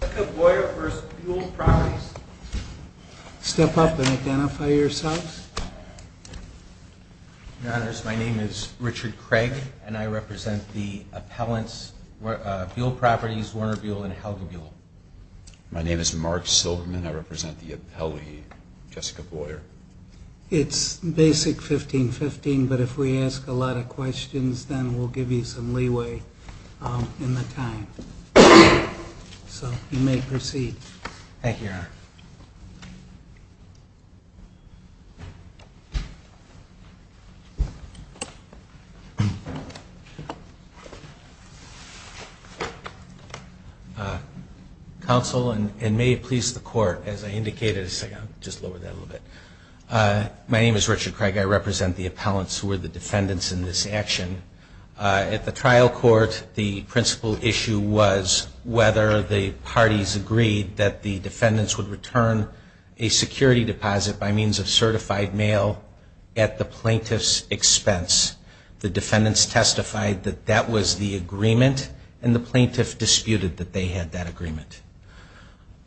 Jessica Boyer v. Buol Properties Step up and identify yourselves. Your Honors, my name is Richard Craig and I represent the appellants, Buol Properties, Warner Buol and Helga Buol. My name is Mark Silverman and I represent the appellee, Jessica Boyer. It's basic 1515, but if we ask a lot of questions, then we'll give you some leeway in the time. So you may proceed. Counsel, and may it please the Court, as I indicated, just lower that a little bit. My name is Richard Craig. I represent the appellants who are the defendants in this action. At the trial court, the principal issue was whether the parties agreed that the defendants would return a security deposit by means of certified mail at the plaintiff's expense. The defendants testified that that was the agreement and the plaintiff disputed that they had that agreement.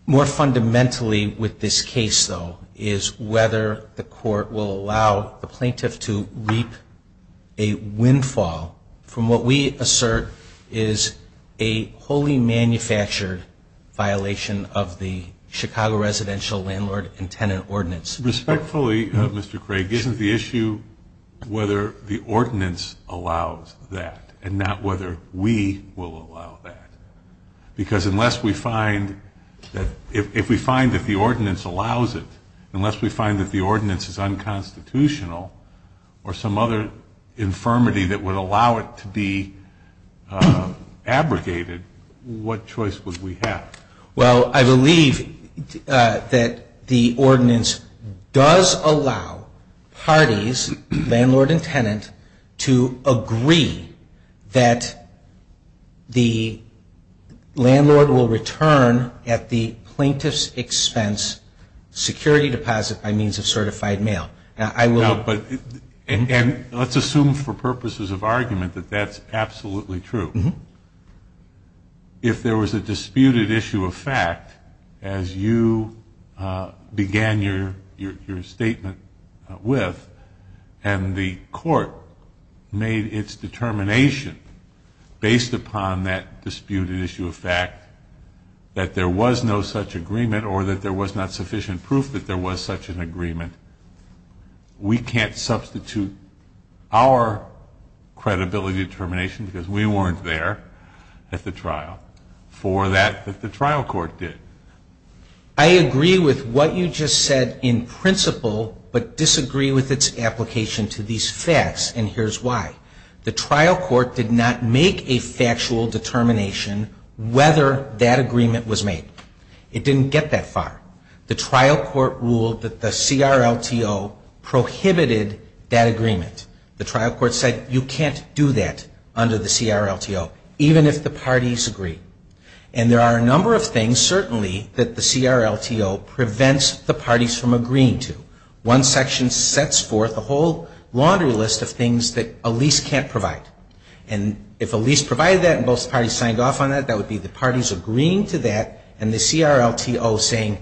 More fundamentally with this case, though, is whether the court will allow the plaintiff to reap a windfall from what we assert is a wholly manufactured violation of the Chicago residential landlord and tenant ordinance. Respectfully, Mr. Craig, isn't the issue whether the ordinance allows that and not whether we will allow that? Because unless we find that the ordinance allows it, unless we find that the ordinance is unconstitutional or some other infirmity that would allow it to be abrogated, what choice would we have? Well, I believe that the ordinance does allow parties, landlord and tenant, to agree that the landlord will return at the plaintiff's expense security deposit by means of certified mail. And let's assume for purposes of argument that that's absolutely true. If there was a disputed issue of fact, as you began your statement with, and the court made its determination based upon that disputed issue of fact that there was no such agreement or that there was not sufficient proof that there was such an agreement, we can't substitute our credibility determination, because we weren't there at the trial, for that that the trial court did. I agree with what you just said in principle, but disagree with its application to these facts, and here's why. The trial court did not make a factual determination whether that agreement was made. It didn't get that far. The trial court ruled that the CRLTO prohibited that agreement. The trial court said, you can't do that under the CRLTO, even if the parties agree. And there are a number of things, certainly, that the CRLTO prevents the parties from agreeing to. One section sets forth a whole laundry list of things that a lease can't provide. And if a lease provided that and both parties signed off on that, that would be the parties agreeing to that, and the CRLTO saying,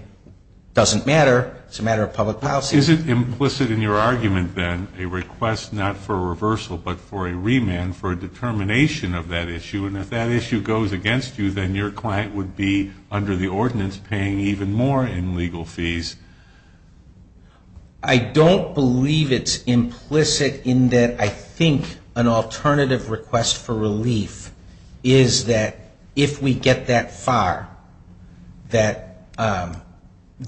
doesn't matter, it's a matter of public policy. Is it implicit in your argument, then, a request not for reversal, but for a remand for a determination of that issue? And if that issue goes against you, then your client would be, under the ordinance, paying even more in legal fees. I don't believe it's implicit in that I think an alternative request for relief is that if we get that far, that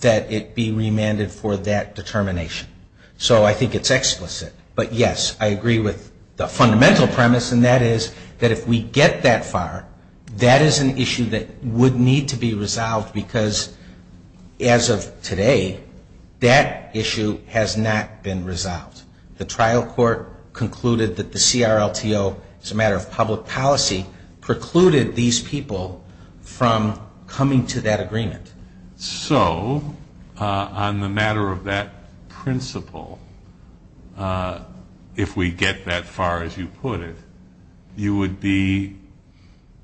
it be remanded for that determination. So I think it's explicit. But, yes, I agree with the fundamental premise, and that is that if we get that far, that is an issue that would need to be resolved, because as of today, that issue has not been resolved. The trial court concluded that the CRLTO, as a matter of public policy, precluded these people from coming to that agreement. So, on the matter of that principle, if we get that far, as you put it, you would be,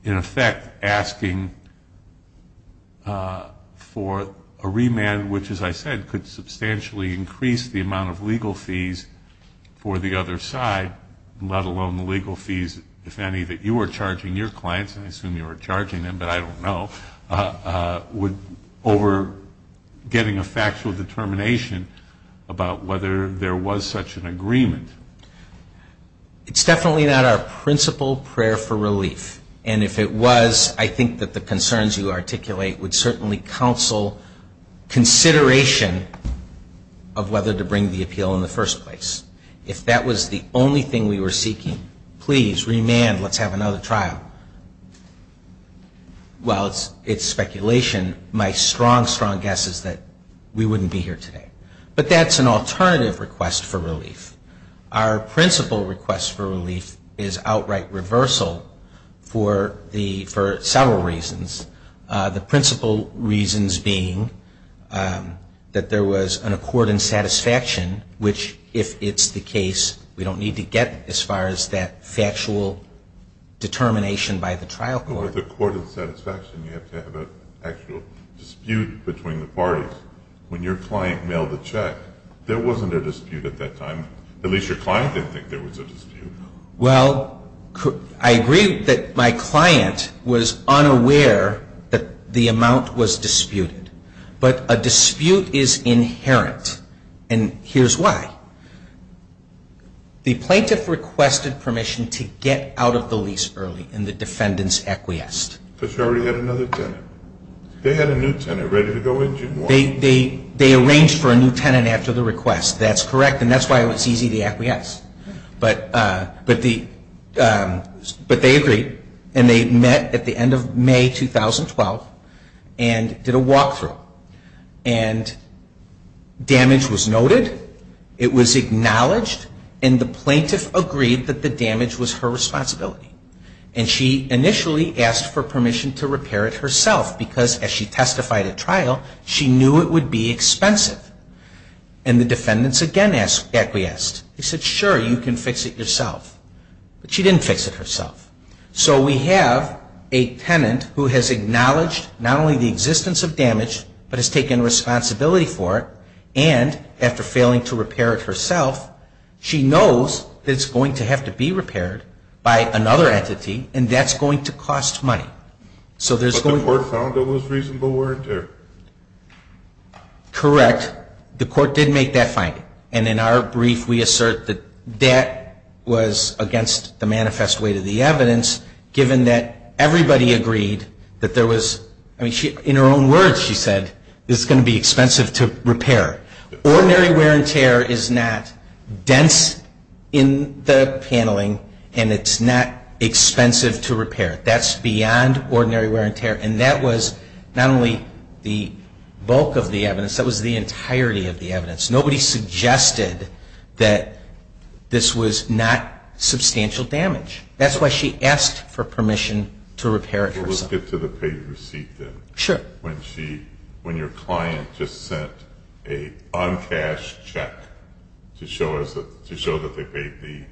in effect, asking for a remand, which, as I said, could substantially increase the amount of legal fees for the other side, let alone the legal fees, if any, that you are charging your clients, and I assume you are charging them, but I don't know, over getting a factual determination about whether there was such an agreement. It's definitely not our principal prayer for relief. And if it was, I think that the concerns you articulate would certainly counsel consideration of whether to bring the appeal in the first place. If that was the only thing we were seeking, please, remand, let's have another trial. While it's speculation, my strong, strong guess is that we wouldn't be here today. But that's an alternative request for relief. Our principal request for relief is outright reversal for several reasons. The principal reasons being that there was an accord and satisfaction, which, if it's the case, we don't need to get as far as that factual determination by the trial court. But with accord and satisfaction, you have to have an actual dispute between the parties. When your client mailed the check, there wasn't a dispute at that time. At least your client didn't think there was a dispute. Well, I agree that my client was unaware that the amount was disputed. But a dispute is inherent, and here's why. The plaintiff requested permission to get out of the lease early in the defendant's acquiesce. Because she already had another tenant. They had a new tenant ready to go in June 1. They arranged for a new tenant after the request. That's correct, and that's why it was easy to acquiesce. But they agreed, and they met at the end of May 2012 and did a walkthrough. And damage was noted. It was acknowledged, and the plaintiff agreed that the damage was her responsibility. And she initially asked for permission to repair it herself. Because as she testified at trial, she knew it would be expensive. And the defendants again acquiesced. They said, sure, you can fix it yourself. But she didn't fix it herself. So we have a tenant who has acknowledged not only the existence of damage, but has taken responsibility for it, and after failing to repair it herself, she knows that it's going to have to be repaired by another entity, and that's going to cost money. But the court found it was reasonable wear and tear. Correct. The court did make that finding. And in our brief, we assert that that was against the manifest weight of the evidence, given that everybody agreed that there was – in her own words, she said, it's going to be expensive to repair. Ordinary wear and tear is not dense in the paneling, and it's not expensive to repair. That's beyond ordinary wear and tear. And that was not only the bulk of the evidence, that was the entirety of the evidence. Nobody suggested that this was not substantial damage. That's why she asked for permission to repair it herself. Let's get to the paid receipt then. Sure. When your client just sent an uncashed check to show that they paid the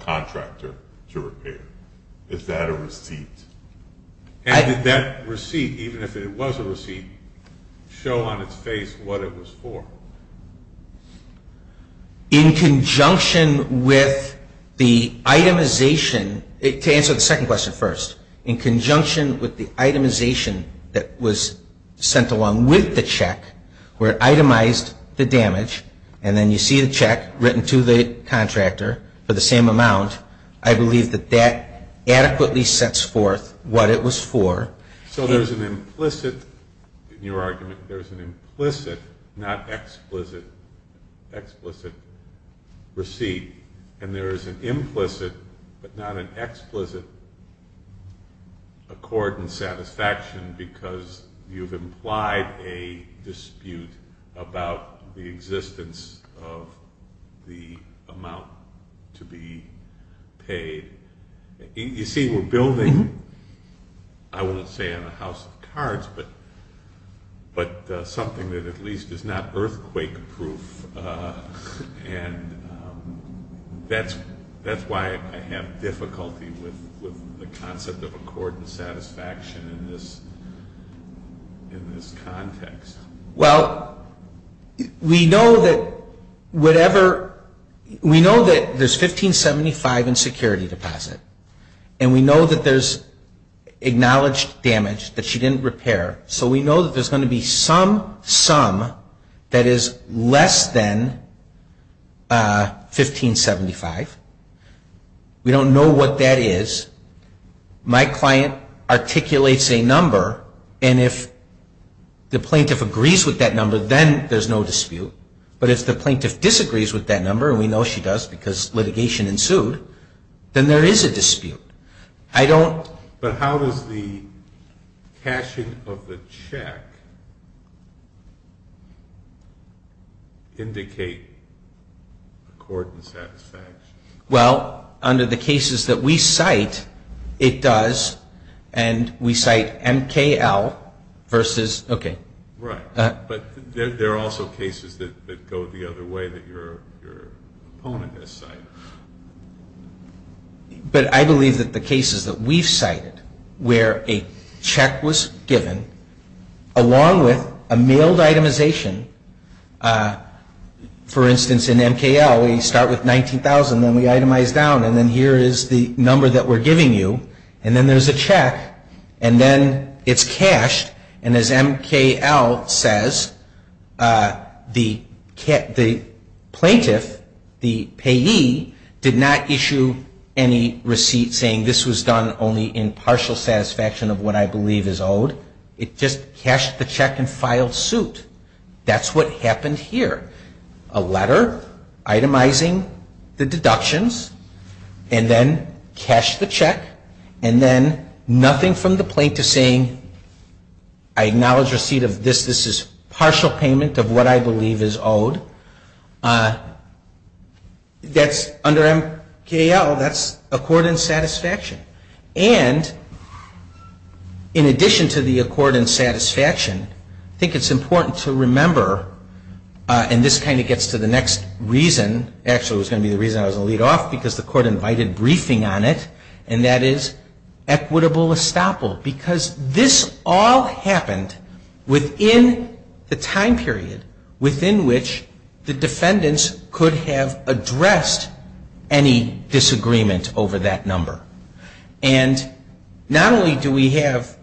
contractor to repair, is that a receipt? And did that receipt, even if it was a receipt, show on its face what it was for? In conjunction with the itemization – to answer the second question first. In conjunction with the itemization that was sent along with the check, where it itemized the damage, and then you see the check written to the contractor for the same amount, I believe that that adequately sets forth what it was for. So there's an implicit, in your argument, there's an implicit, not explicit, explicit receipt. And there is an implicit but not an explicit accord and satisfaction because you've implied a dispute about the existence of the amount to be paid. You see, we're building, I won't say on a house of cards, but something that at least is not earthquake proof. And that's why I have difficulty with the concept of accord and satisfaction in this context. Well, we know that whatever – we know that there's 1575 in security deposit. And we know that there's acknowledged damage that she didn't repair. So we know that there's going to be some sum that is less than 1575. We don't know what that is. My client articulates a number, and if the plaintiff agrees with that number, then there's no dispute. But if the plaintiff disagrees with that number, and we know she does because litigation ensued, then there is a dispute. I don't – But how does the cashing of the check indicate accord and satisfaction? Well, under the cases that we cite, it does. And we cite MKL versus – okay. Right. But there are also cases that go the other way that your opponent has cited. But I believe that the cases that we've cited where a check was given, along with a mailed itemization, for instance, in MKL, we start with 19,000, then we itemize down, and then here is the number that we're giving you, and then there's a check, and then it's cashed, and as MKL says, the plaintiff, the payee, did not issue any receipt saying this was done only in partial satisfaction of what I believe is owed. It just cashed the check and filed suit. That's what happened here. A letter itemizing the deductions, and then cashed the check, and then nothing from the plaintiff saying I acknowledge receipt of this. This is partial payment of what I believe is owed. Under MKL, that's accord and satisfaction. And in addition to the accord and satisfaction, I think it's important to remember – and this kind of gets to the next reason. Actually, it was going to be the reason I was going to lead off because the court invited briefing on it, and that is equitable estoppel because this all happened within the time period within which the defendants could have addressed any disagreement over that number. And not only do we have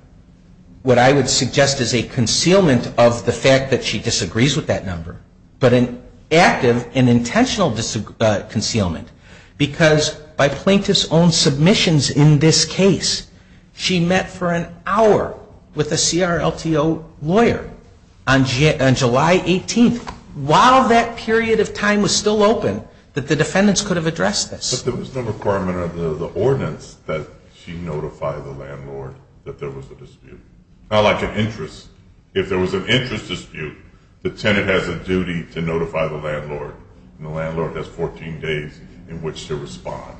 what I would suggest is a concealment of the fact that she disagrees with that number, but an active and intentional concealment because by plaintiff's own submissions in this case, she met for an hour with a CRLTO lawyer on July 18th. While that period of time was still open, that the defendants could have addressed this. But there was no requirement under the ordinance that she notify the landlord that there was a dispute. Not like an interest. If there was an interest dispute, the tenant has a duty to notify the landlord, and the landlord has 14 days in which to respond.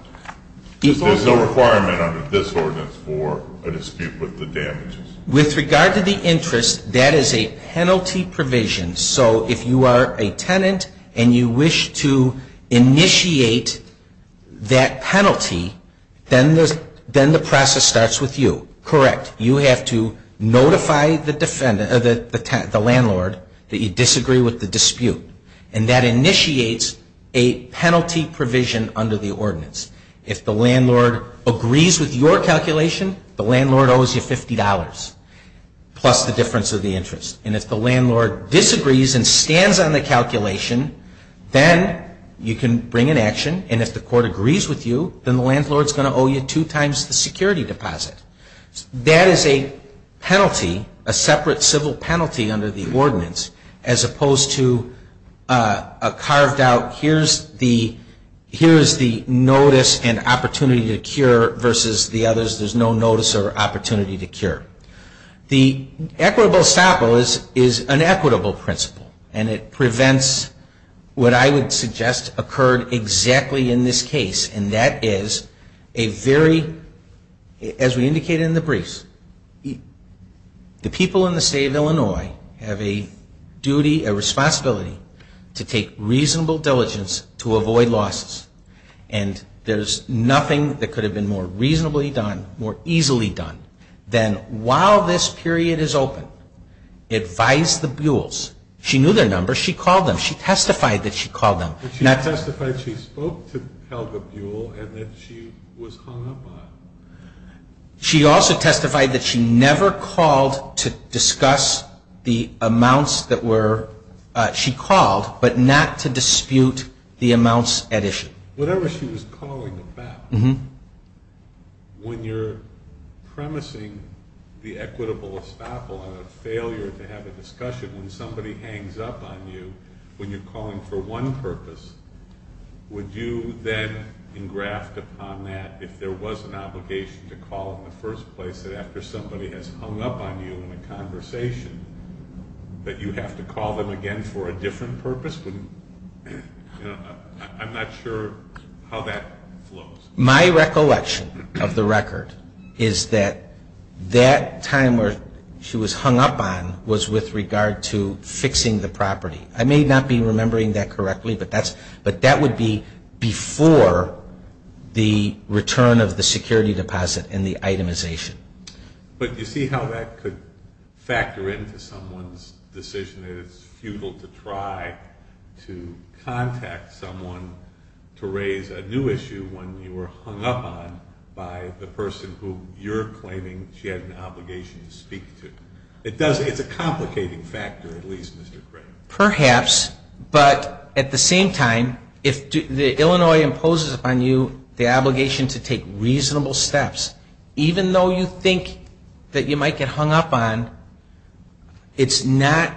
There's no requirement under this ordinance for a dispute with the damages. With regard to the interest, that is a penalty provision. So if you are a tenant and you wish to initiate that penalty, then the process starts with you. Correct. You have to notify the landlord that you disagree with the dispute. And that initiates a penalty provision under the ordinance. If the landlord agrees with your calculation, the landlord owes you $50, plus the difference of the interest. And if the landlord disagrees and stands on the calculation, then you can bring an action, and if the court agrees with you, then the landlord is going to owe you two times the security deposit. That is a penalty, a separate civil penalty under the ordinance, as opposed to a carved out, here's the notice and opportunity to cure, versus the others, there's no notice or opportunity to cure. The equitable stop is an equitable principle, and it prevents what I would suggest occurred exactly in this case, and that is a very, as we indicated in the briefs, the people in the state of Illinois have a duty, a responsibility, to take reasonable diligence to avoid losses. And there's nothing that could have been more reasonably done, more easily done, than while this period is open, advise the Buells. She knew their numbers. She called them. She testified that she called them. She testified she spoke to Helga Buell, and that she was hung up on it. She also testified that she never called to discuss the amounts that were, she called, but not to dispute the amounts at issue. Whatever she was calling about, when you're premising the equitable estoppel on a failure to have a discussion when somebody hangs up on you, when you're calling for one purpose, would you then engraft upon that if there was an obligation to call in the first place after somebody has hung up on you in a conversation, but you have to call them again for a different purpose? I'm not sure how that flows. My recollection of the record is that that time where she was hung up on was with regard to fixing the property. I may not be remembering that correctly, but that would be before the return of the security deposit and the itemization. But you see how that could factor into someone's decision that it's futile to try to contact someone to raise a new issue when you were hung up on by the person who you're claiming she had an obligation to speak to. It's a complicating factor, at least, Mr. Crane. Perhaps, but at the same time, if Illinois imposes upon you the obligation to take reasonable steps, even though you think that you might get hung up on, it's not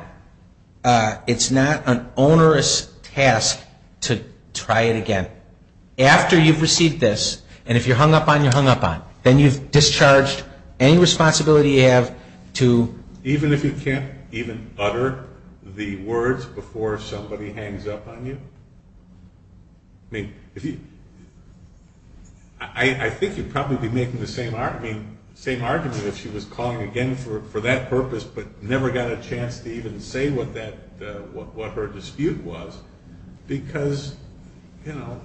an onerous task to try it again. After you've received this, and if you're hung up on, you're hung up on, then you've discharged any responsibility you have to... Even if you can't even utter the words before somebody hangs up on you? I mean, I think you'd probably be making the same argument if she was calling again for that purpose but never got a chance to even say what her dispute was, because, you know,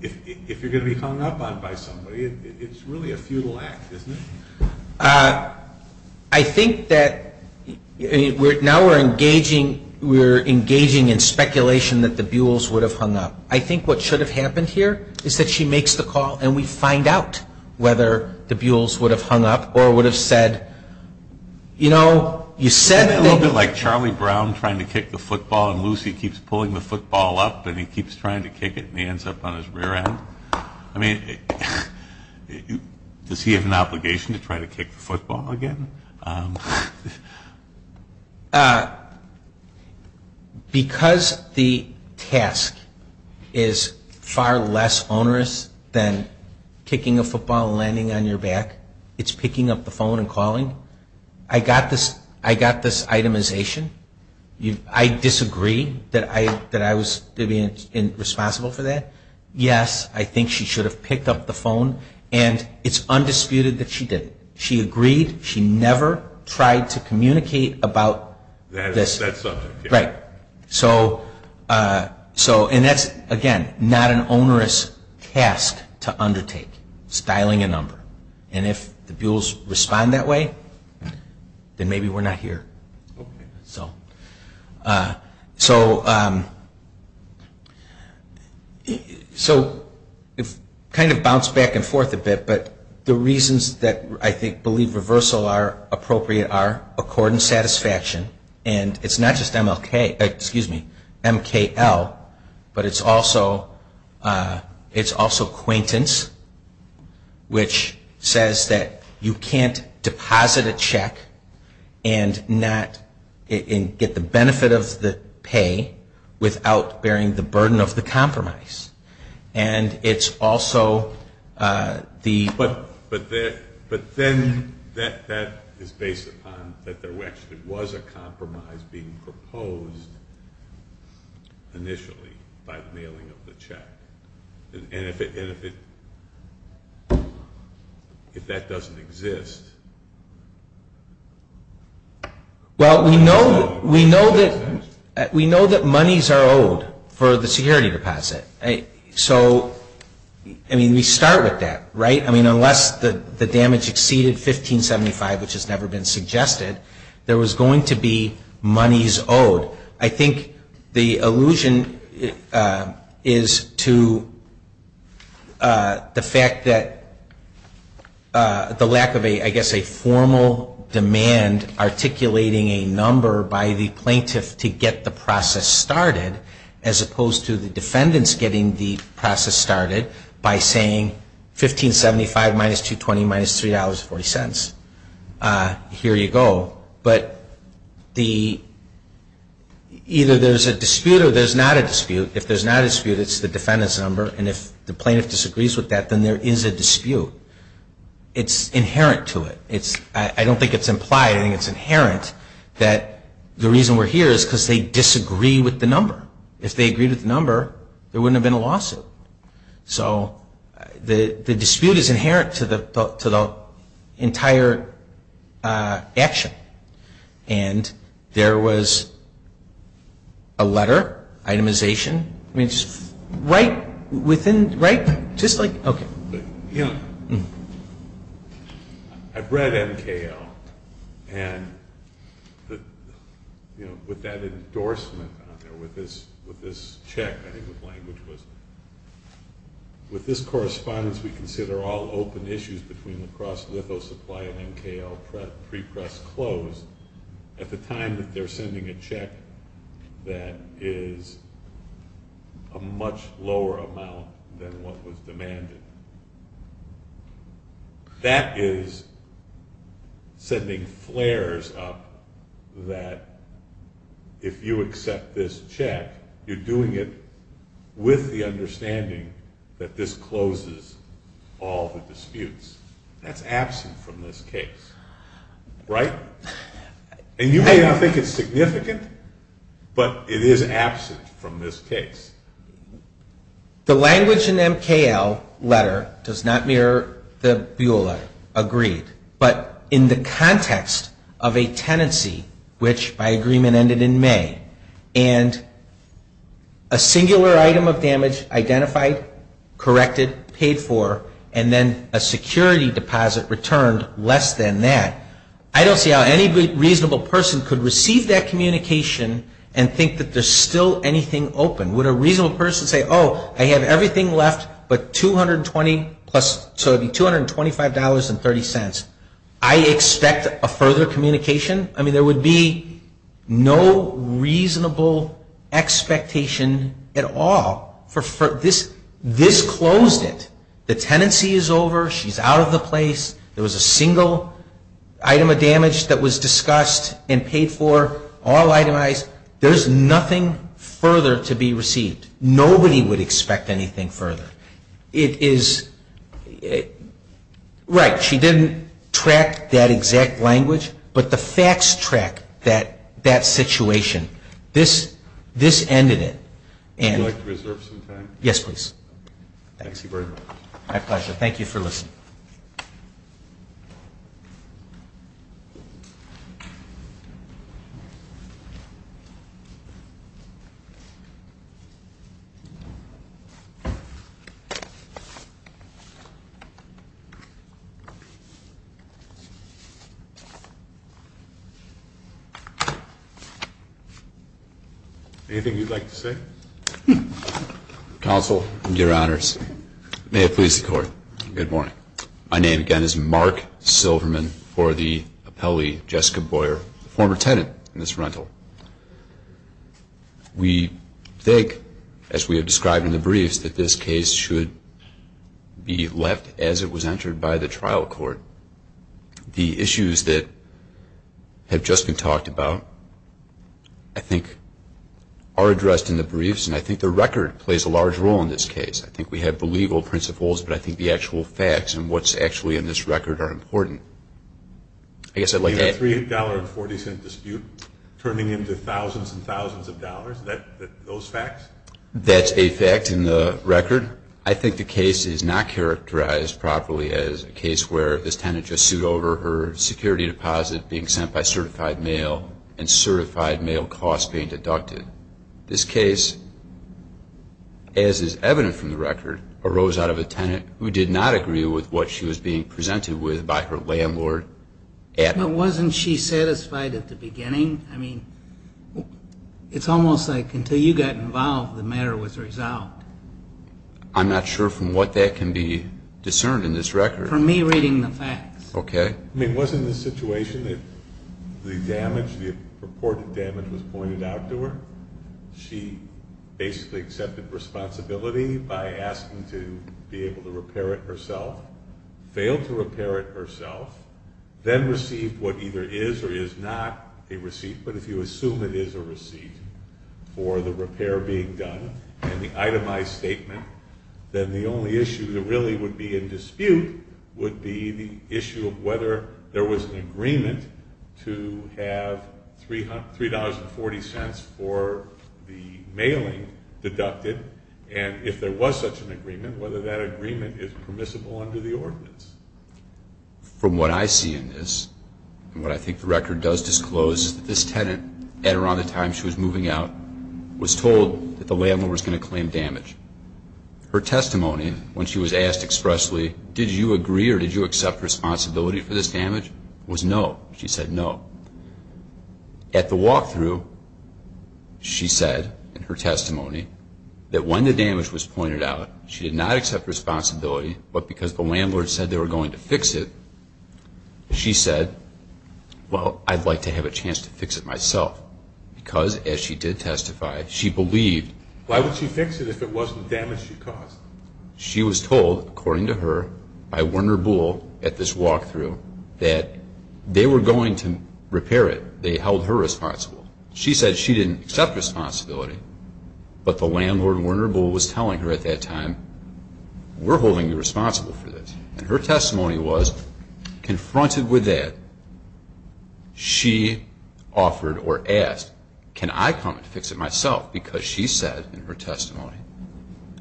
if you're going to be hung up on by somebody, it's really a futile act, isn't it? I think that now we're engaging in speculation that the Buells would have hung up. I think what should have happened here is that she makes the call and we find out whether the Buells would have hung up or would have said, You know, you said that... Isn't it a little bit like Charlie Brown trying to kick the football and Lucy keeps pulling the football up and he keeps trying to kick it and he ends up on his rear end? I mean, does he have an obligation to try to kick the football again? Because the task is far less onerous than kicking a football and landing on your back, it's picking up the phone and calling. I got this itemization. I disagree that I was responsible for that. Yes, I think she should have picked up the phone and it's undisputed that she didn't. She agreed. She never tried to communicate about this. That's subjective. Right. And that's, again, not an onerous task to undertake, styling a number. And if the Buells respond that way, then maybe we're not here. So it kind of bounced back and forth a bit, but the reasons that I believe reversal are appropriate are accord and satisfaction and it's not just MKL, but it's also acquaintance, which says that you can't deposit a check and get the benefit of the pay without bearing the burden of the compromise. And it's also the... But then that is based upon that there actually was a compromise being proposed initially by the mailing of the check. And if that doesn't exist... Well, we know that monies are owed for the security deposit. So, I mean, we start with that, right? I mean, unless the damage exceeded 1575, which has never been suggested, there was going to be monies owed. I think the allusion is to the fact that the lack of, I guess, a formal demand articulating a number by the plaintiff to get the process started, as opposed to the defendants getting the process started by saying, 1575 minus 220 minus $3.40, here you go. But either there's a dispute or there's not a dispute. If there's not a dispute, it's the defendant's number, and if the plaintiff disagrees with that, then there is a dispute. It's inherent to it. I don't think it's implied. I think it's inherent that the reason we're here is because they disagree with the number. If they agreed with the number, there wouldn't have been a lawsuit. So the dispute is inherent to the entire action. And there was a letter, itemization, right within, right? Just like, okay. You know, I've read MKL. And, you know, with that endorsement on there, with this check, I think the language was, with this correspondence we consider all open issues between lacrosse, litho supply, and MKL prepress closed, at the time that they're sending a check that is a much lower amount than what was demanded. That is sending flares up that if you accept this check, you're doing it with the understanding that this closes all the disputes. That's absent from this case, right? And you may not think it's significant, but it is absent from this case. The language in the MKL letter does not mirror the Buell letter, agreed. But in the context of a tenancy, which by agreement ended in May, and a singular item of damage identified, corrected, paid for, and then a security deposit returned less than that, I don't see how any reasonable person could receive that communication and think that there's still anything open. Would a reasonable person say, oh, I have everything left, but $225.30, I expect a further communication? I mean, there would be no reasonable expectation at all. This closed it. The tenancy is over. She's out of the place. There was a single item of damage that was discussed and paid for. All itemized. There's nothing further to be received. Nobody would expect anything further. It is right. She didn't track that exact language, but the facts track that situation. This ended it. Would you like to reserve some time? Yes, please. Thank you very much. My pleasure. Thank you for listening. Anything you'd like to say? Counsel. Your Honors. May it please the Court. Good morning. My name, again, is Mark Silverman for the appellee, Jessica Boyer, former tenant in this rental. We think, as we have described in the briefs, that this case should be left as it was entered by the trial court. The issues that have just been talked about, I think, are addressed in the briefs, and I think the record plays a large role in this case. I think we have the legal principles, but I think the actual facts and what's actually in this record are important. I guess I'd like to add. The $3.40 dispute turning into thousands and thousands of dollars, those facts? That's a fact in the record. I think the case is not characterized properly as a case where this tenant just sued over her security deposit being sent by certified mail and certified mail costs being deducted. This case, as is evident from the record, arose out of a tenant who did not agree with what she was being presented with by her landlord at the time. But wasn't she satisfied at the beginning? I mean, it's almost like until you got involved, the matter was resolved. I'm not sure from what that can be discerned in this record. For me, reading the facts. Okay. I mean, wasn't the situation that the damage, the purported damage was pointed out to her? She basically accepted responsibility by asking to be able to repair it herself, failed to repair it herself, then received what either is or is not a receipt, but if you assume it is a receipt for the repair being done and the itemized statement, then the only issue that really would be in dispute would be the issue of whether there was an agreement to have $3.40 for the mailing deducted. And if there was such an agreement, whether that agreement is permissible under the ordinance. From what I see in this, and what I think the record does disclose, is that this tenant at around the time she was moving out was told that the landlord was going to claim damage. Her testimony when she was asked expressly, did you agree or did you accept responsibility for this damage, was no. She said no. At the walkthrough, she said in her testimony that when the damage was pointed out, she did not accept responsibility, but because the landlord said they were going to fix it, she said, well, I'd like to have a chance to fix it myself. Because as she did testify, she believed. Why would she fix it if it wasn't the damage she caused? She was told, according to her, by Werner Bull at this walkthrough, that they were going to repair it. They held her responsible. She said she didn't accept responsibility, but the landlord, Werner Bull, was telling her at that time, we're holding you responsible for this. And her testimony was, confronted with that, she offered or asked, can I come and fix it myself? Because she said in her testimony,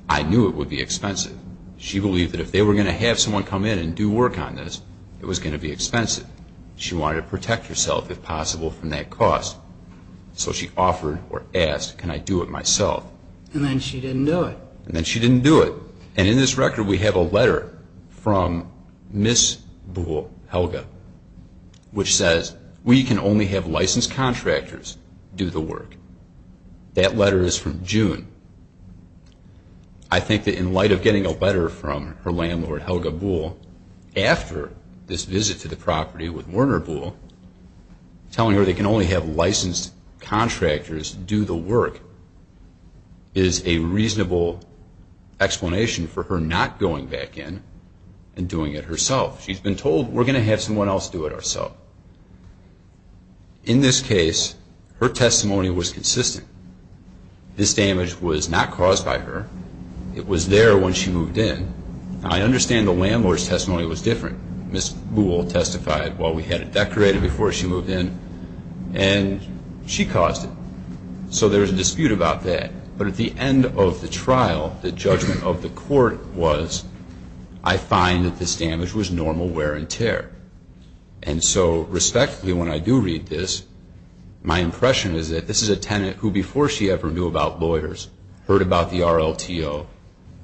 I knew it would be expensive. She believed that if they were going to have someone come in and do work on this, it was going to be expensive. She wanted to protect herself, if possible, from that cost. So she offered or asked, can I do it myself? And then she didn't do it. And then she didn't do it. And in this record, we have a letter from Ms. Bull, Helga, which says, we can only have licensed contractors do the work. That letter is from June. I think that in light of getting a letter from her landlord, Helga Bull, after this visit to the property with Werner Bull, telling her they can only have licensed contractors do the work, is a reasonable explanation for her not going back in and doing it herself. She's been told, we're going to have someone else do it ourself. In this case, her testimony was consistent. This damage was not caused by her. It was there when she moved in. I understand the landlord's testimony was different. Ms. Bull testified, well, we had it decorated before she moved in, and she caused it. So there's a dispute about that. But at the end of the trial, the judgment of the court was, I find that this damage was normal wear and tear. And so, respectfully, when I do read this, my impression is that this is a tenant who, before she ever knew about lawyers, heard about the RLTO,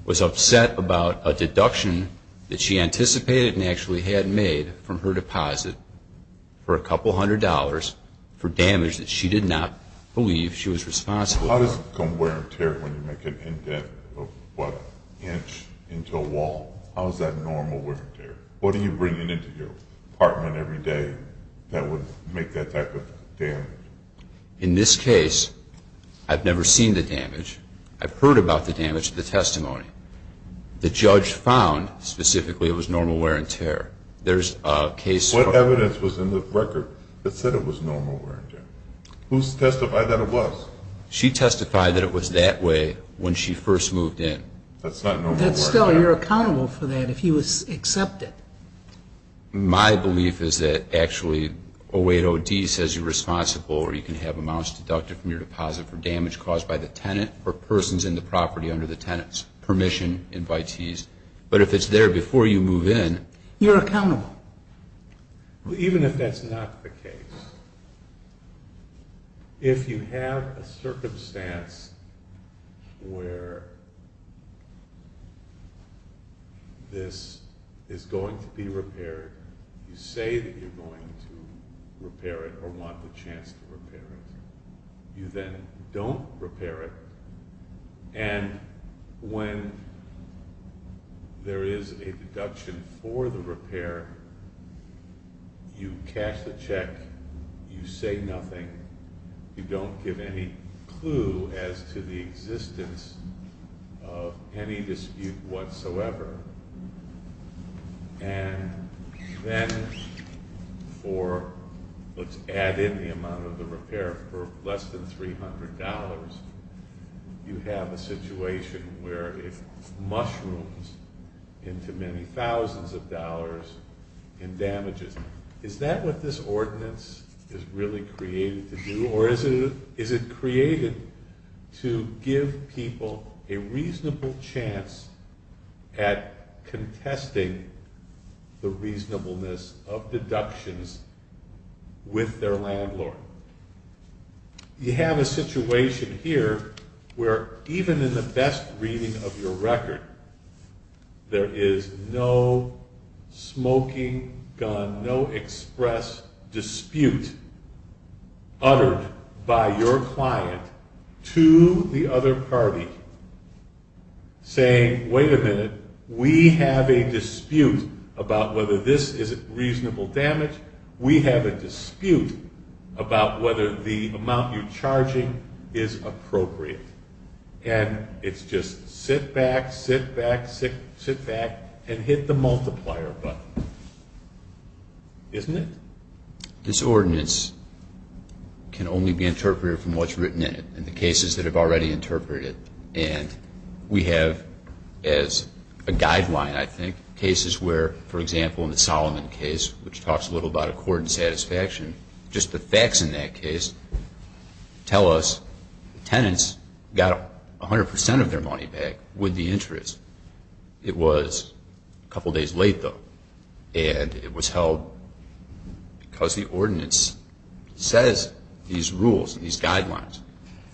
was upset about a deduction that she anticipated and actually had made from her deposit for a couple hundred dollars for damage that she did not believe she was responsible for. How does it become wear and tear when you make an indent of, what, an inch into a wall? How is that normal wear and tear? What are you bringing into your apartment every day that would make that type of damage? In this case, I've never seen the damage. I've heard about the damage, the testimony. The judge found, specifically, it was normal wear and tear. What evidence was in the record that said it was normal wear and tear? Who testified that it was? She testified that it was that way when she first moved in. That's not normal wear and tear. But still, you're accountable for that if he was accepted. My belief is that actually 08OD says you're responsible or you can have amounts deducted from your deposit for damage caused by the tenant or persons in the property under the tenant's permission, invitees. But if it's there before you move in, you're accountable. Even if that's not the case, if you have a circumstance where this is going to be repaired, you say that you're going to repair it or want the chance to repair it. You then don't repair it, and when there is a deduction for the repair, you cash the check. You say nothing. You don't give any clue as to the existence of any dispute whatsoever. And then for, let's add in the amount of the repair, for less than $300, you have a situation where it mushrooms into many thousands of dollars in damages. Is that what this ordinance is really created to do? Or is it created to give people a reasonable chance at contesting the reasonableness of deductions with their landlord? You have a situation here where even in the best reading of your record, there is no smoking gun, no express dispute uttered by your client to the other party, saying, wait a minute, we have a dispute about whether this is reasonable damage. We have a dispute about whether the amount you're charging is appropriate. And it's just sit back, sit back, sit back, and hit the multiplier button. Isn't it? This ordinance can only be interpreted from what's written in it and the cases that have already interpreted it. And we have as a guideline, I think, cases where, for example, in the Solomon case, which talks a little about accord and satisfaction, just the facts in that case tell us the tenants got 100 percent of their money back with the interest. It was a couple days late, though, and it was held because the ordinance says these rules and these guidelines.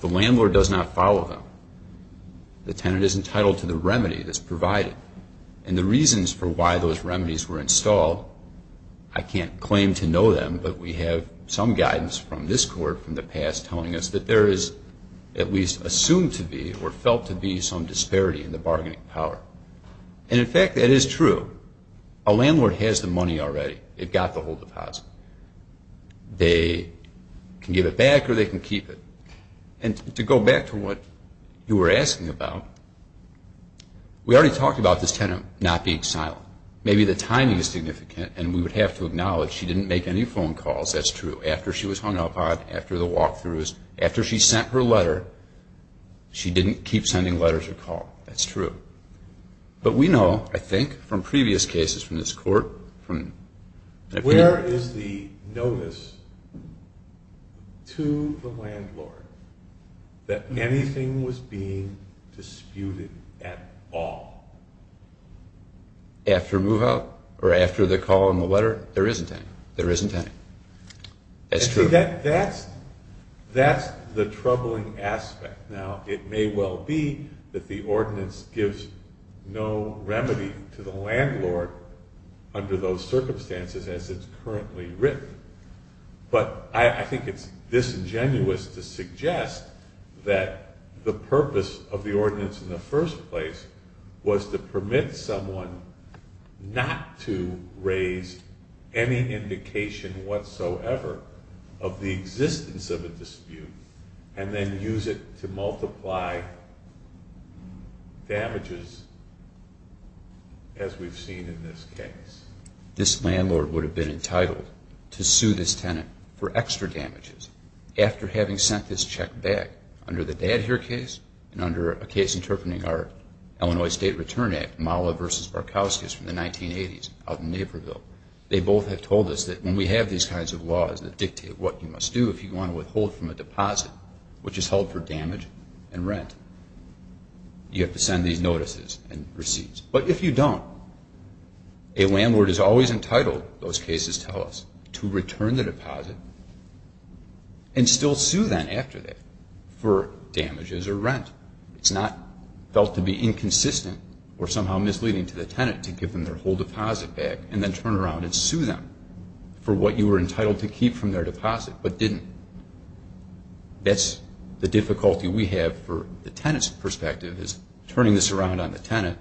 The landlord does not follow them. The tenant is entitled to the remedy that's provided. And the reasons for why those remedies were installed, I can't claim to know them, but we have some guidance from this court from the past telling us that there is at least assumed to be or felt to be some disparity in the bargaining power. And, in fact, that is true. A landlord has the money already. They've got the whole deposit. They can give it back or they can keep it. And to go back to what you were asking about, we already talked about this tenant not being silent. Maybe the timing is significant, and we would have to acknowledge she didn't make any phone calls. That's true. After she was hung up on, after the walk-throughs, after she sent her letter, she didn't keep sending letters or call. That's true. But we know, I think, from previous cases from this court. Where is the notice to the landlord that anything was being disputed at all? After move-out or after the call in the letter? There isn't any. There isn't any. That's true. See, that's the troubling aspect. Now, it may well be that the ordinance gives no remedy to the landlord under those circumstances as it's currently written. But I think it's disingenuous to suggest that the purpose of the ordinance in the first place was to permit someone not to raise any indication whatsoever of the existence of a dispute and then use it to multiply damages as we've seen in this case. This landlord would have been entitled to sue this tenant for extra damages after having sent this check back, under the Dad Here case and under a case interpreting our Illinois State Return Act, Mala v. Barkowskis from the 1980s out in Naperville. They both have told us that when we have these kinds of laws that dictate what you must do if you want to withhold from a deposit, which is held for damage and rent, you have to send these notices and receipts. But if you don't, a landlord is always entitled, those cases tell us, to return the deposit and still sue them after that for damages or rent. It's not felt to be inconsistent or somehow misleading to the tenant to give them their whole deposit back and then turn around and sue them for what you were entitled to keep from their deposit but didn't. That's the difficulty we have for the tenant's perspective is turning this around on the tenant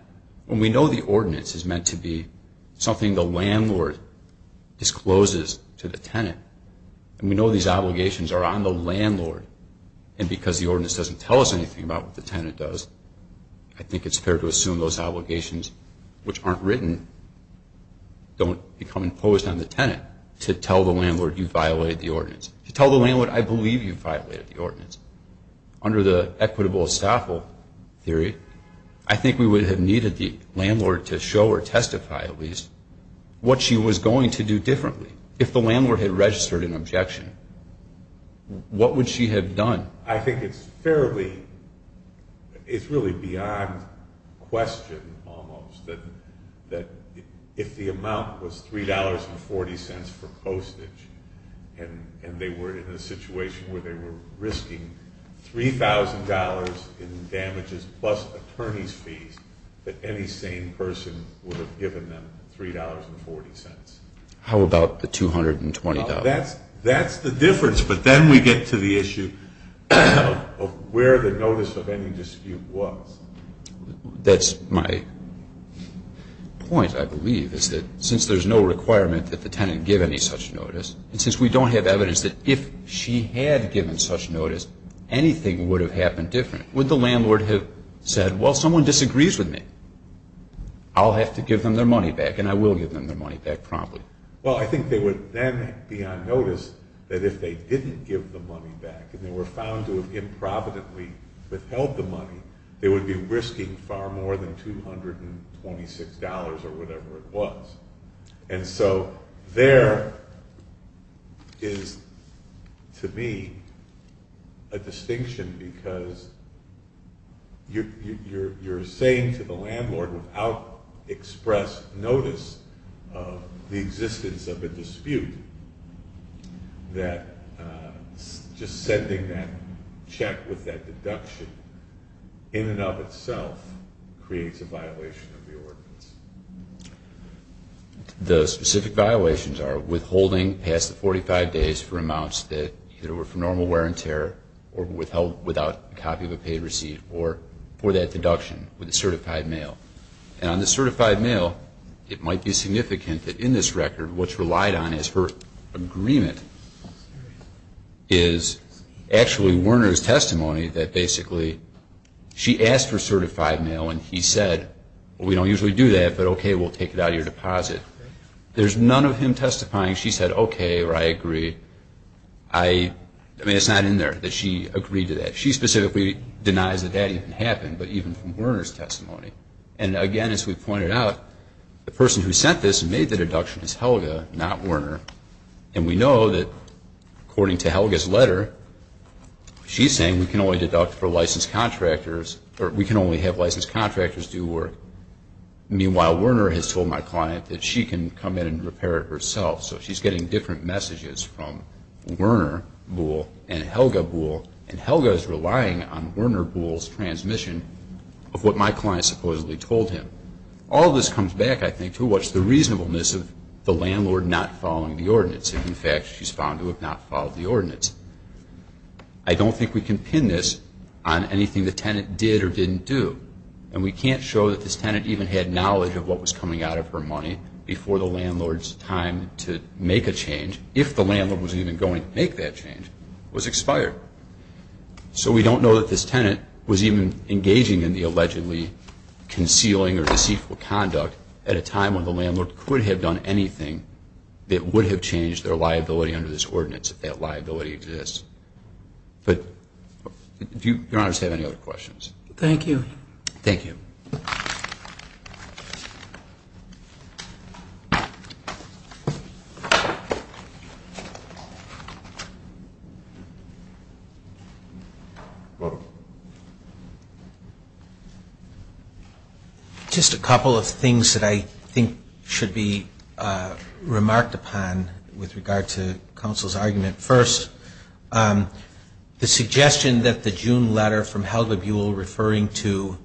when we know the ordinance is meant to be something the landlord discloses to the tenant and we know these obligations are on the landlord and because the ordinance doesn't tell us anything about what the tenant does, I think it's fair to assume those obligations, which aren't written, don't become imposed on the tenant to tell the landlord you violated the ordinance. Under the equitable estoppel theory, I think we would have needed the landlord to show or testify at least what she was going to do differently. If the landlord had registered an objection, what would she have done? I think it's fairly, it's really beyond question almost that if the amount was $3.40 for postage and they were in a situation where they were risking $3,000 in damages plus attorney's fees that any sane person would have given them $3.40. How about the $220? That's the difference, but then we get to the issue of where the notice of any dispute was. That's my point, I believe, is that since there's no requirement that the tenant give any such notice, and since we don't have evidence that if she had given such notice, anything would have happened different. Would the landlord have said, well, someone disagrees with me. I'll have to give them their money back, and I will give them their money back promptly. Well, I think they would then be on notice that if they didn't give the money back and they were found to have improvidently withheld the money, they would be risking far more than $226 or whatever it was. And so there is, to me, a distinction because you're saying to the landlord without express notice of the existence of a dispute that just sending that check with that deduction in and of itself creates a violation of the ordinance. The specific violations are withholding past the 45 days for amounts that were either for normal wear and tear or withheld without a copy of a paid receipt or for that deduction with a certified mail. And on the certified mail, it might be significant that in this record what's relied on is her agreement is actually Werner's testimony that basically she asked for certified mail and he said, well, we don't usually do that, but okay, we'll take it out of your deposit. There's none of him testifying, she said, okay, or I agree. I mean, it's not in there that she agreed to that. She specifically denies that that even happened, but even from Werner's testimony. And again, as we pointed out, the person who sent this and made the deduction is Helga, She's saying we can only deduct for licensed contractors, or we can only have licensed contractors do work. Meanwhile, Werner has told my client that she can come in and repair it herself. So she's getting different messages from Werner Bull and Helga Bull, and Helga is relying on Werner Bull's transmission of what my client supposedly told him. All of this comes back, I think, to what's the reasonableness of the landlord not following the ordinance. In fact, she's found to have not followed the ordinance. I don't think we can pin this on anything the tenant did or didn't do, and we can't show that this tenant even had knowledge of what was coming out of her money before the landlord's time to make a change, if the landlord was even going to make that change, was expired. So we don't know that this tenant was even engaging in the allegedly concealing or deceitful conduct at a time when the landlord could have done anything that would have changed their liability under this ordinance, if that liability exists. But do your honors have any other questions? Thank you. Thank you. Thank you. Just a couple of things that I think should be remarked upon with regard to counsel's argument. First, the suggestion that the June letter from Helga Buell referring to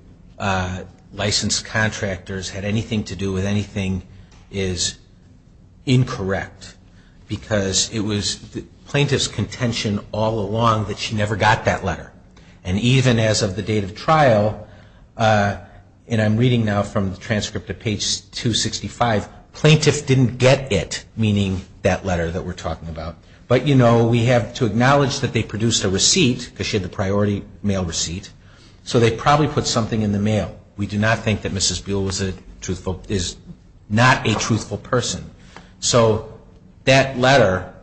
licensed contractors had anything to do with anything is incorrect, because it was the plaintiff's contention all along that she never got that letter. And even as of the date of trial, and I'm reading now from the transcript of page 265, plaintiff didn't get it, meaning that letter that we're talking about. But, you know, we have to acknowledge that they produced a receipt, because she had the priority mail receipt, so they probably put something in the mail. We do not think that Mrs. Buell is not a truthful person. So that letter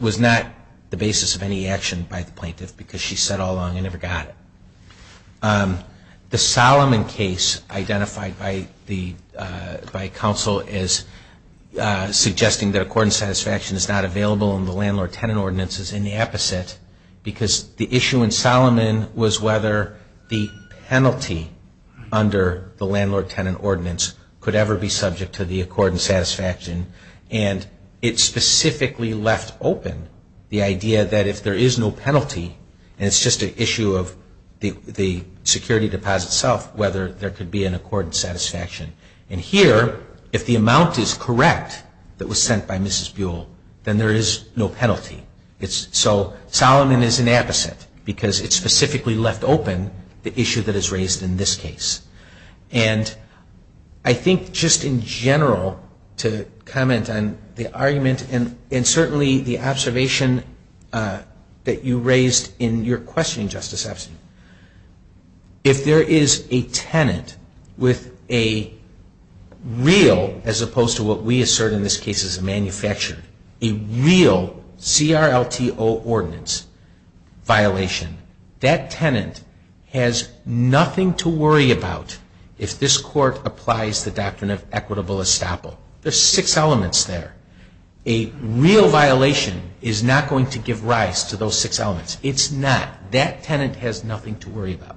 was not the basis of any action by the plaintiff, because she said all along, I never got it. The Solomon case identified by counsel as suggesting that accordant satisfaction is not available in the landlord-tenant ordinance is in the opposite, because the issue in Solomon was whether the penalty under the landlord-tenant ordinance could ever be subject to the accordant satisfaction. And it specifically left open the idea that if there is no penalty, and it's just an issue of the security deposit itself, whether there could be an accordant satisfaction. And here, if the amount is correct that was sent by Mrs. Buell, then there is no penalty. So Solomon is an opposite, because it specifically left open the issue that is raised in this case. And I think just in general, to comment on the argument, and certainly the observation that you raised in your question, Justice Epstein, if there is a tenant with a real, as opposed to what we assert in this case as a manufacturer, a real CRLTO ordinance violation, that tenant has nothing to worry about if this Court applies the doctrine of equitable estoppel. There's six elements there. A real violation is not going to give rise to those six elements. It's not. That tenant has nothing to worry about.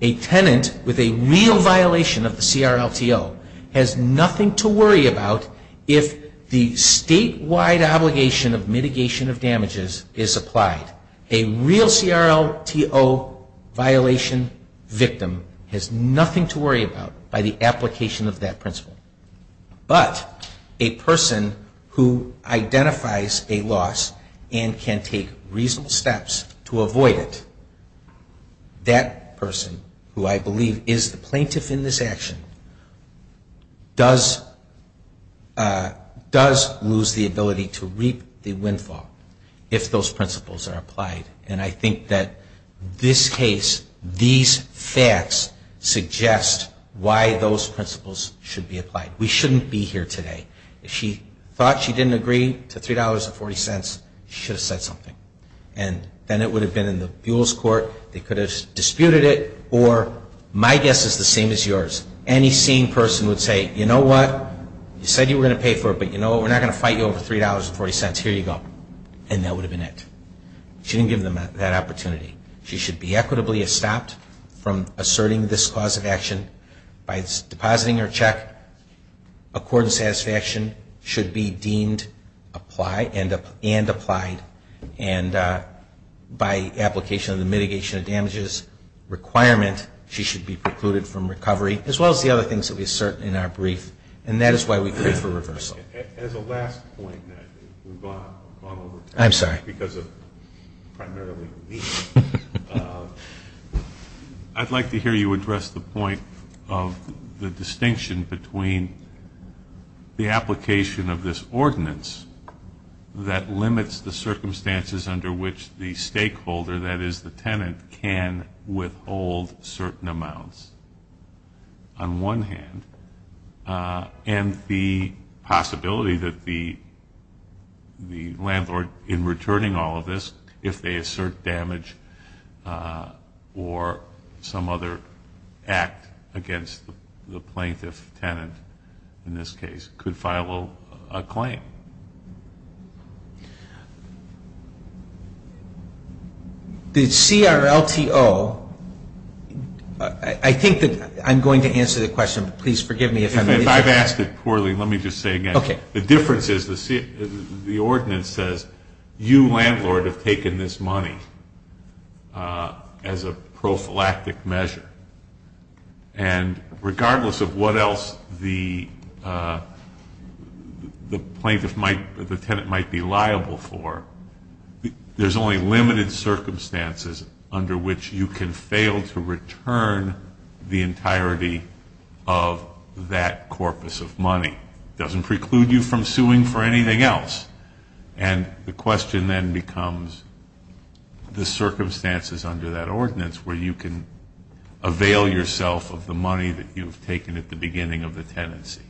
A tenant with a real violation of the CRLTO has nothing to worry about if the statewide obligation of mitigation of damages is applied. A real CRLTO violation victim has nothing to worry about by the application of that principle. But a person who identifies a loss and can take reasonable steps to avoid it, that person, who I believe is the plaintiff in this action, does lose the ability to reap the windfall if those principles are applied. And I think that this case, these facts, suggest why those principles should be applied. We shouldn't be here today. If she thought she didn't agree to $3.40, she should have said something. And then it would have been in the Buol's Court. They could have disputed it, or my guess is the same as yours. Any seeing person would say, you know what, you said you were going to pay for it, but you know what, we're not going to fight you over $3.40. Here you go. And that would have been it. She didn't give them that opportunity. She should be equitably estopped from asserting this cause of action by depositing her check according to satisfaction, should be deemed and applied, and by application of the mitigation of damages requirement, she should be precluded from recovery, as well as the other things that we assert in our brief. And that is why we plead for reversal. As a last point, we've gone over time. I'm sorry. Because of primarily me. I'd like to hear you address the point of the distinction between the application of this ordinance that limits the circumstances under which the stakeholder, that is the tenant, can withhold certain amounts, on one hand, and the possibility that the landlord, in returning all of this, if they assert damage or some other act against the plaintiff-tenant, in this case, could file a claim. The CRLTO, I think that I'm going to answer the question, but please forgive me. If I've asked it poorly, let me just say it again. Okay. The difference is the ordinance says, you, landlord, have taken this money as a prophylactic measure. And regardless of what else the tenant might be liable for, there's only limited circumstances under which you can fail to return the entirety of that corpus of money. It doesn't preclude you from suing for anything else. And the question then becomes the circumstances under that ordinance where you can avail yourself of the money that you've taken at the beginning of the tenancy.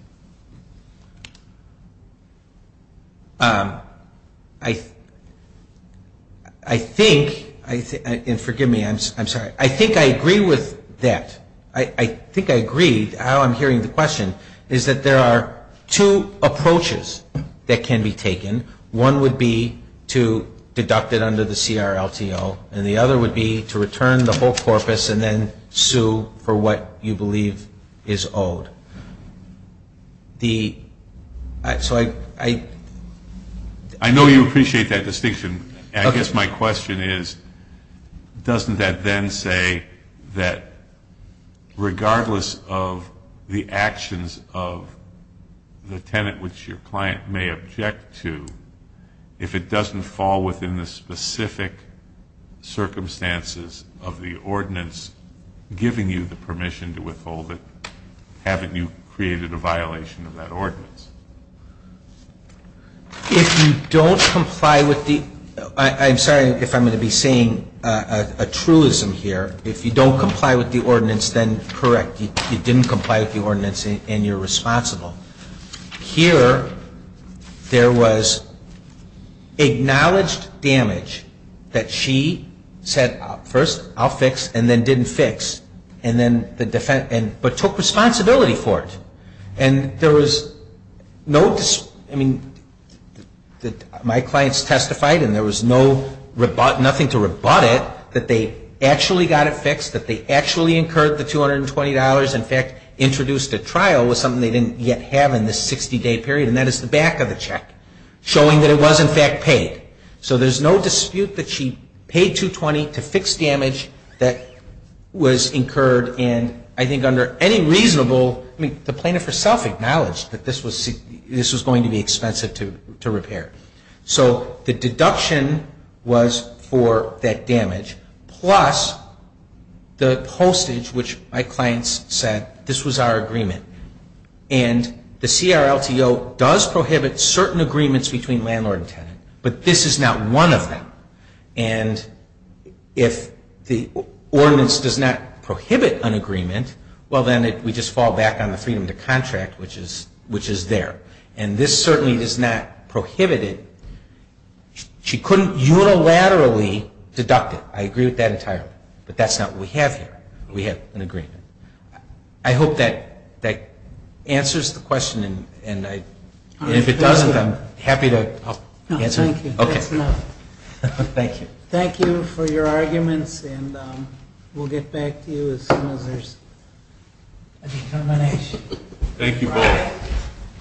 I think, and forgive me, I'm sorry. I think I agree with that. I think I agree, how I'm hearing the question, is that there are two approaches that can be taken. One would be to deduct it under the CRLTO, and the other would be to return the whole corpus and then sue for what you believe is owed. So I ---- I know you appreciate that distinction. Okay. I guess my question is, doesn't that then say that regardless of the actions of the tenant, which your client may object to, if it doesn't fall within the specific circumstances of the ordinance giving you the permission to withhold it, haven't you created a violation of that ordinance? If you don't comply with the ---- I'm sorry if I'm going to be saying a truism here. If you don't comply with the ordinance, then correct. You didn't comply with the ordinance, and you're responsible. Here, there was acknowledged damage that she said, first, I'll fix, and then didn't fix, but took responsibility for it. And there was no ---- I mean, my clients testified, and there was nothing to rebut it, that they actually got it fixed, that they actually incurred the $220, in fact introduced a trial with something they didn't yet have in this 60-day period, and that is the back of the check, showing that it was, in fact, paid. So there's no dispute that she paid $220 to fix damage that was incurred, and I think under any reasonable ---- I mean, the plaintiff herself acknowledged that this was going to be expensive to repair. So the deduction was for that damage, plus the postage, which my clients said, this was our agreement. And the CRLTO does prohibit certain agreements between landlord and tenant, but this is not one of them. And if the ordinance does not prohibit an agreement, well, then we just fall back on the freedom to contract, which is there. And this certainly does not prohibit it. She couldn't unilaterally deduct it. I agree with that entirely. But that's not what we have here. We have an agreement. I hope that answers the question, and if it doesn't, I'm happy to help answer it. Thank you. That's enough. Thank you. Thank you for your arguments, and we'll get back to you as soon as there's a determination. Thank you both.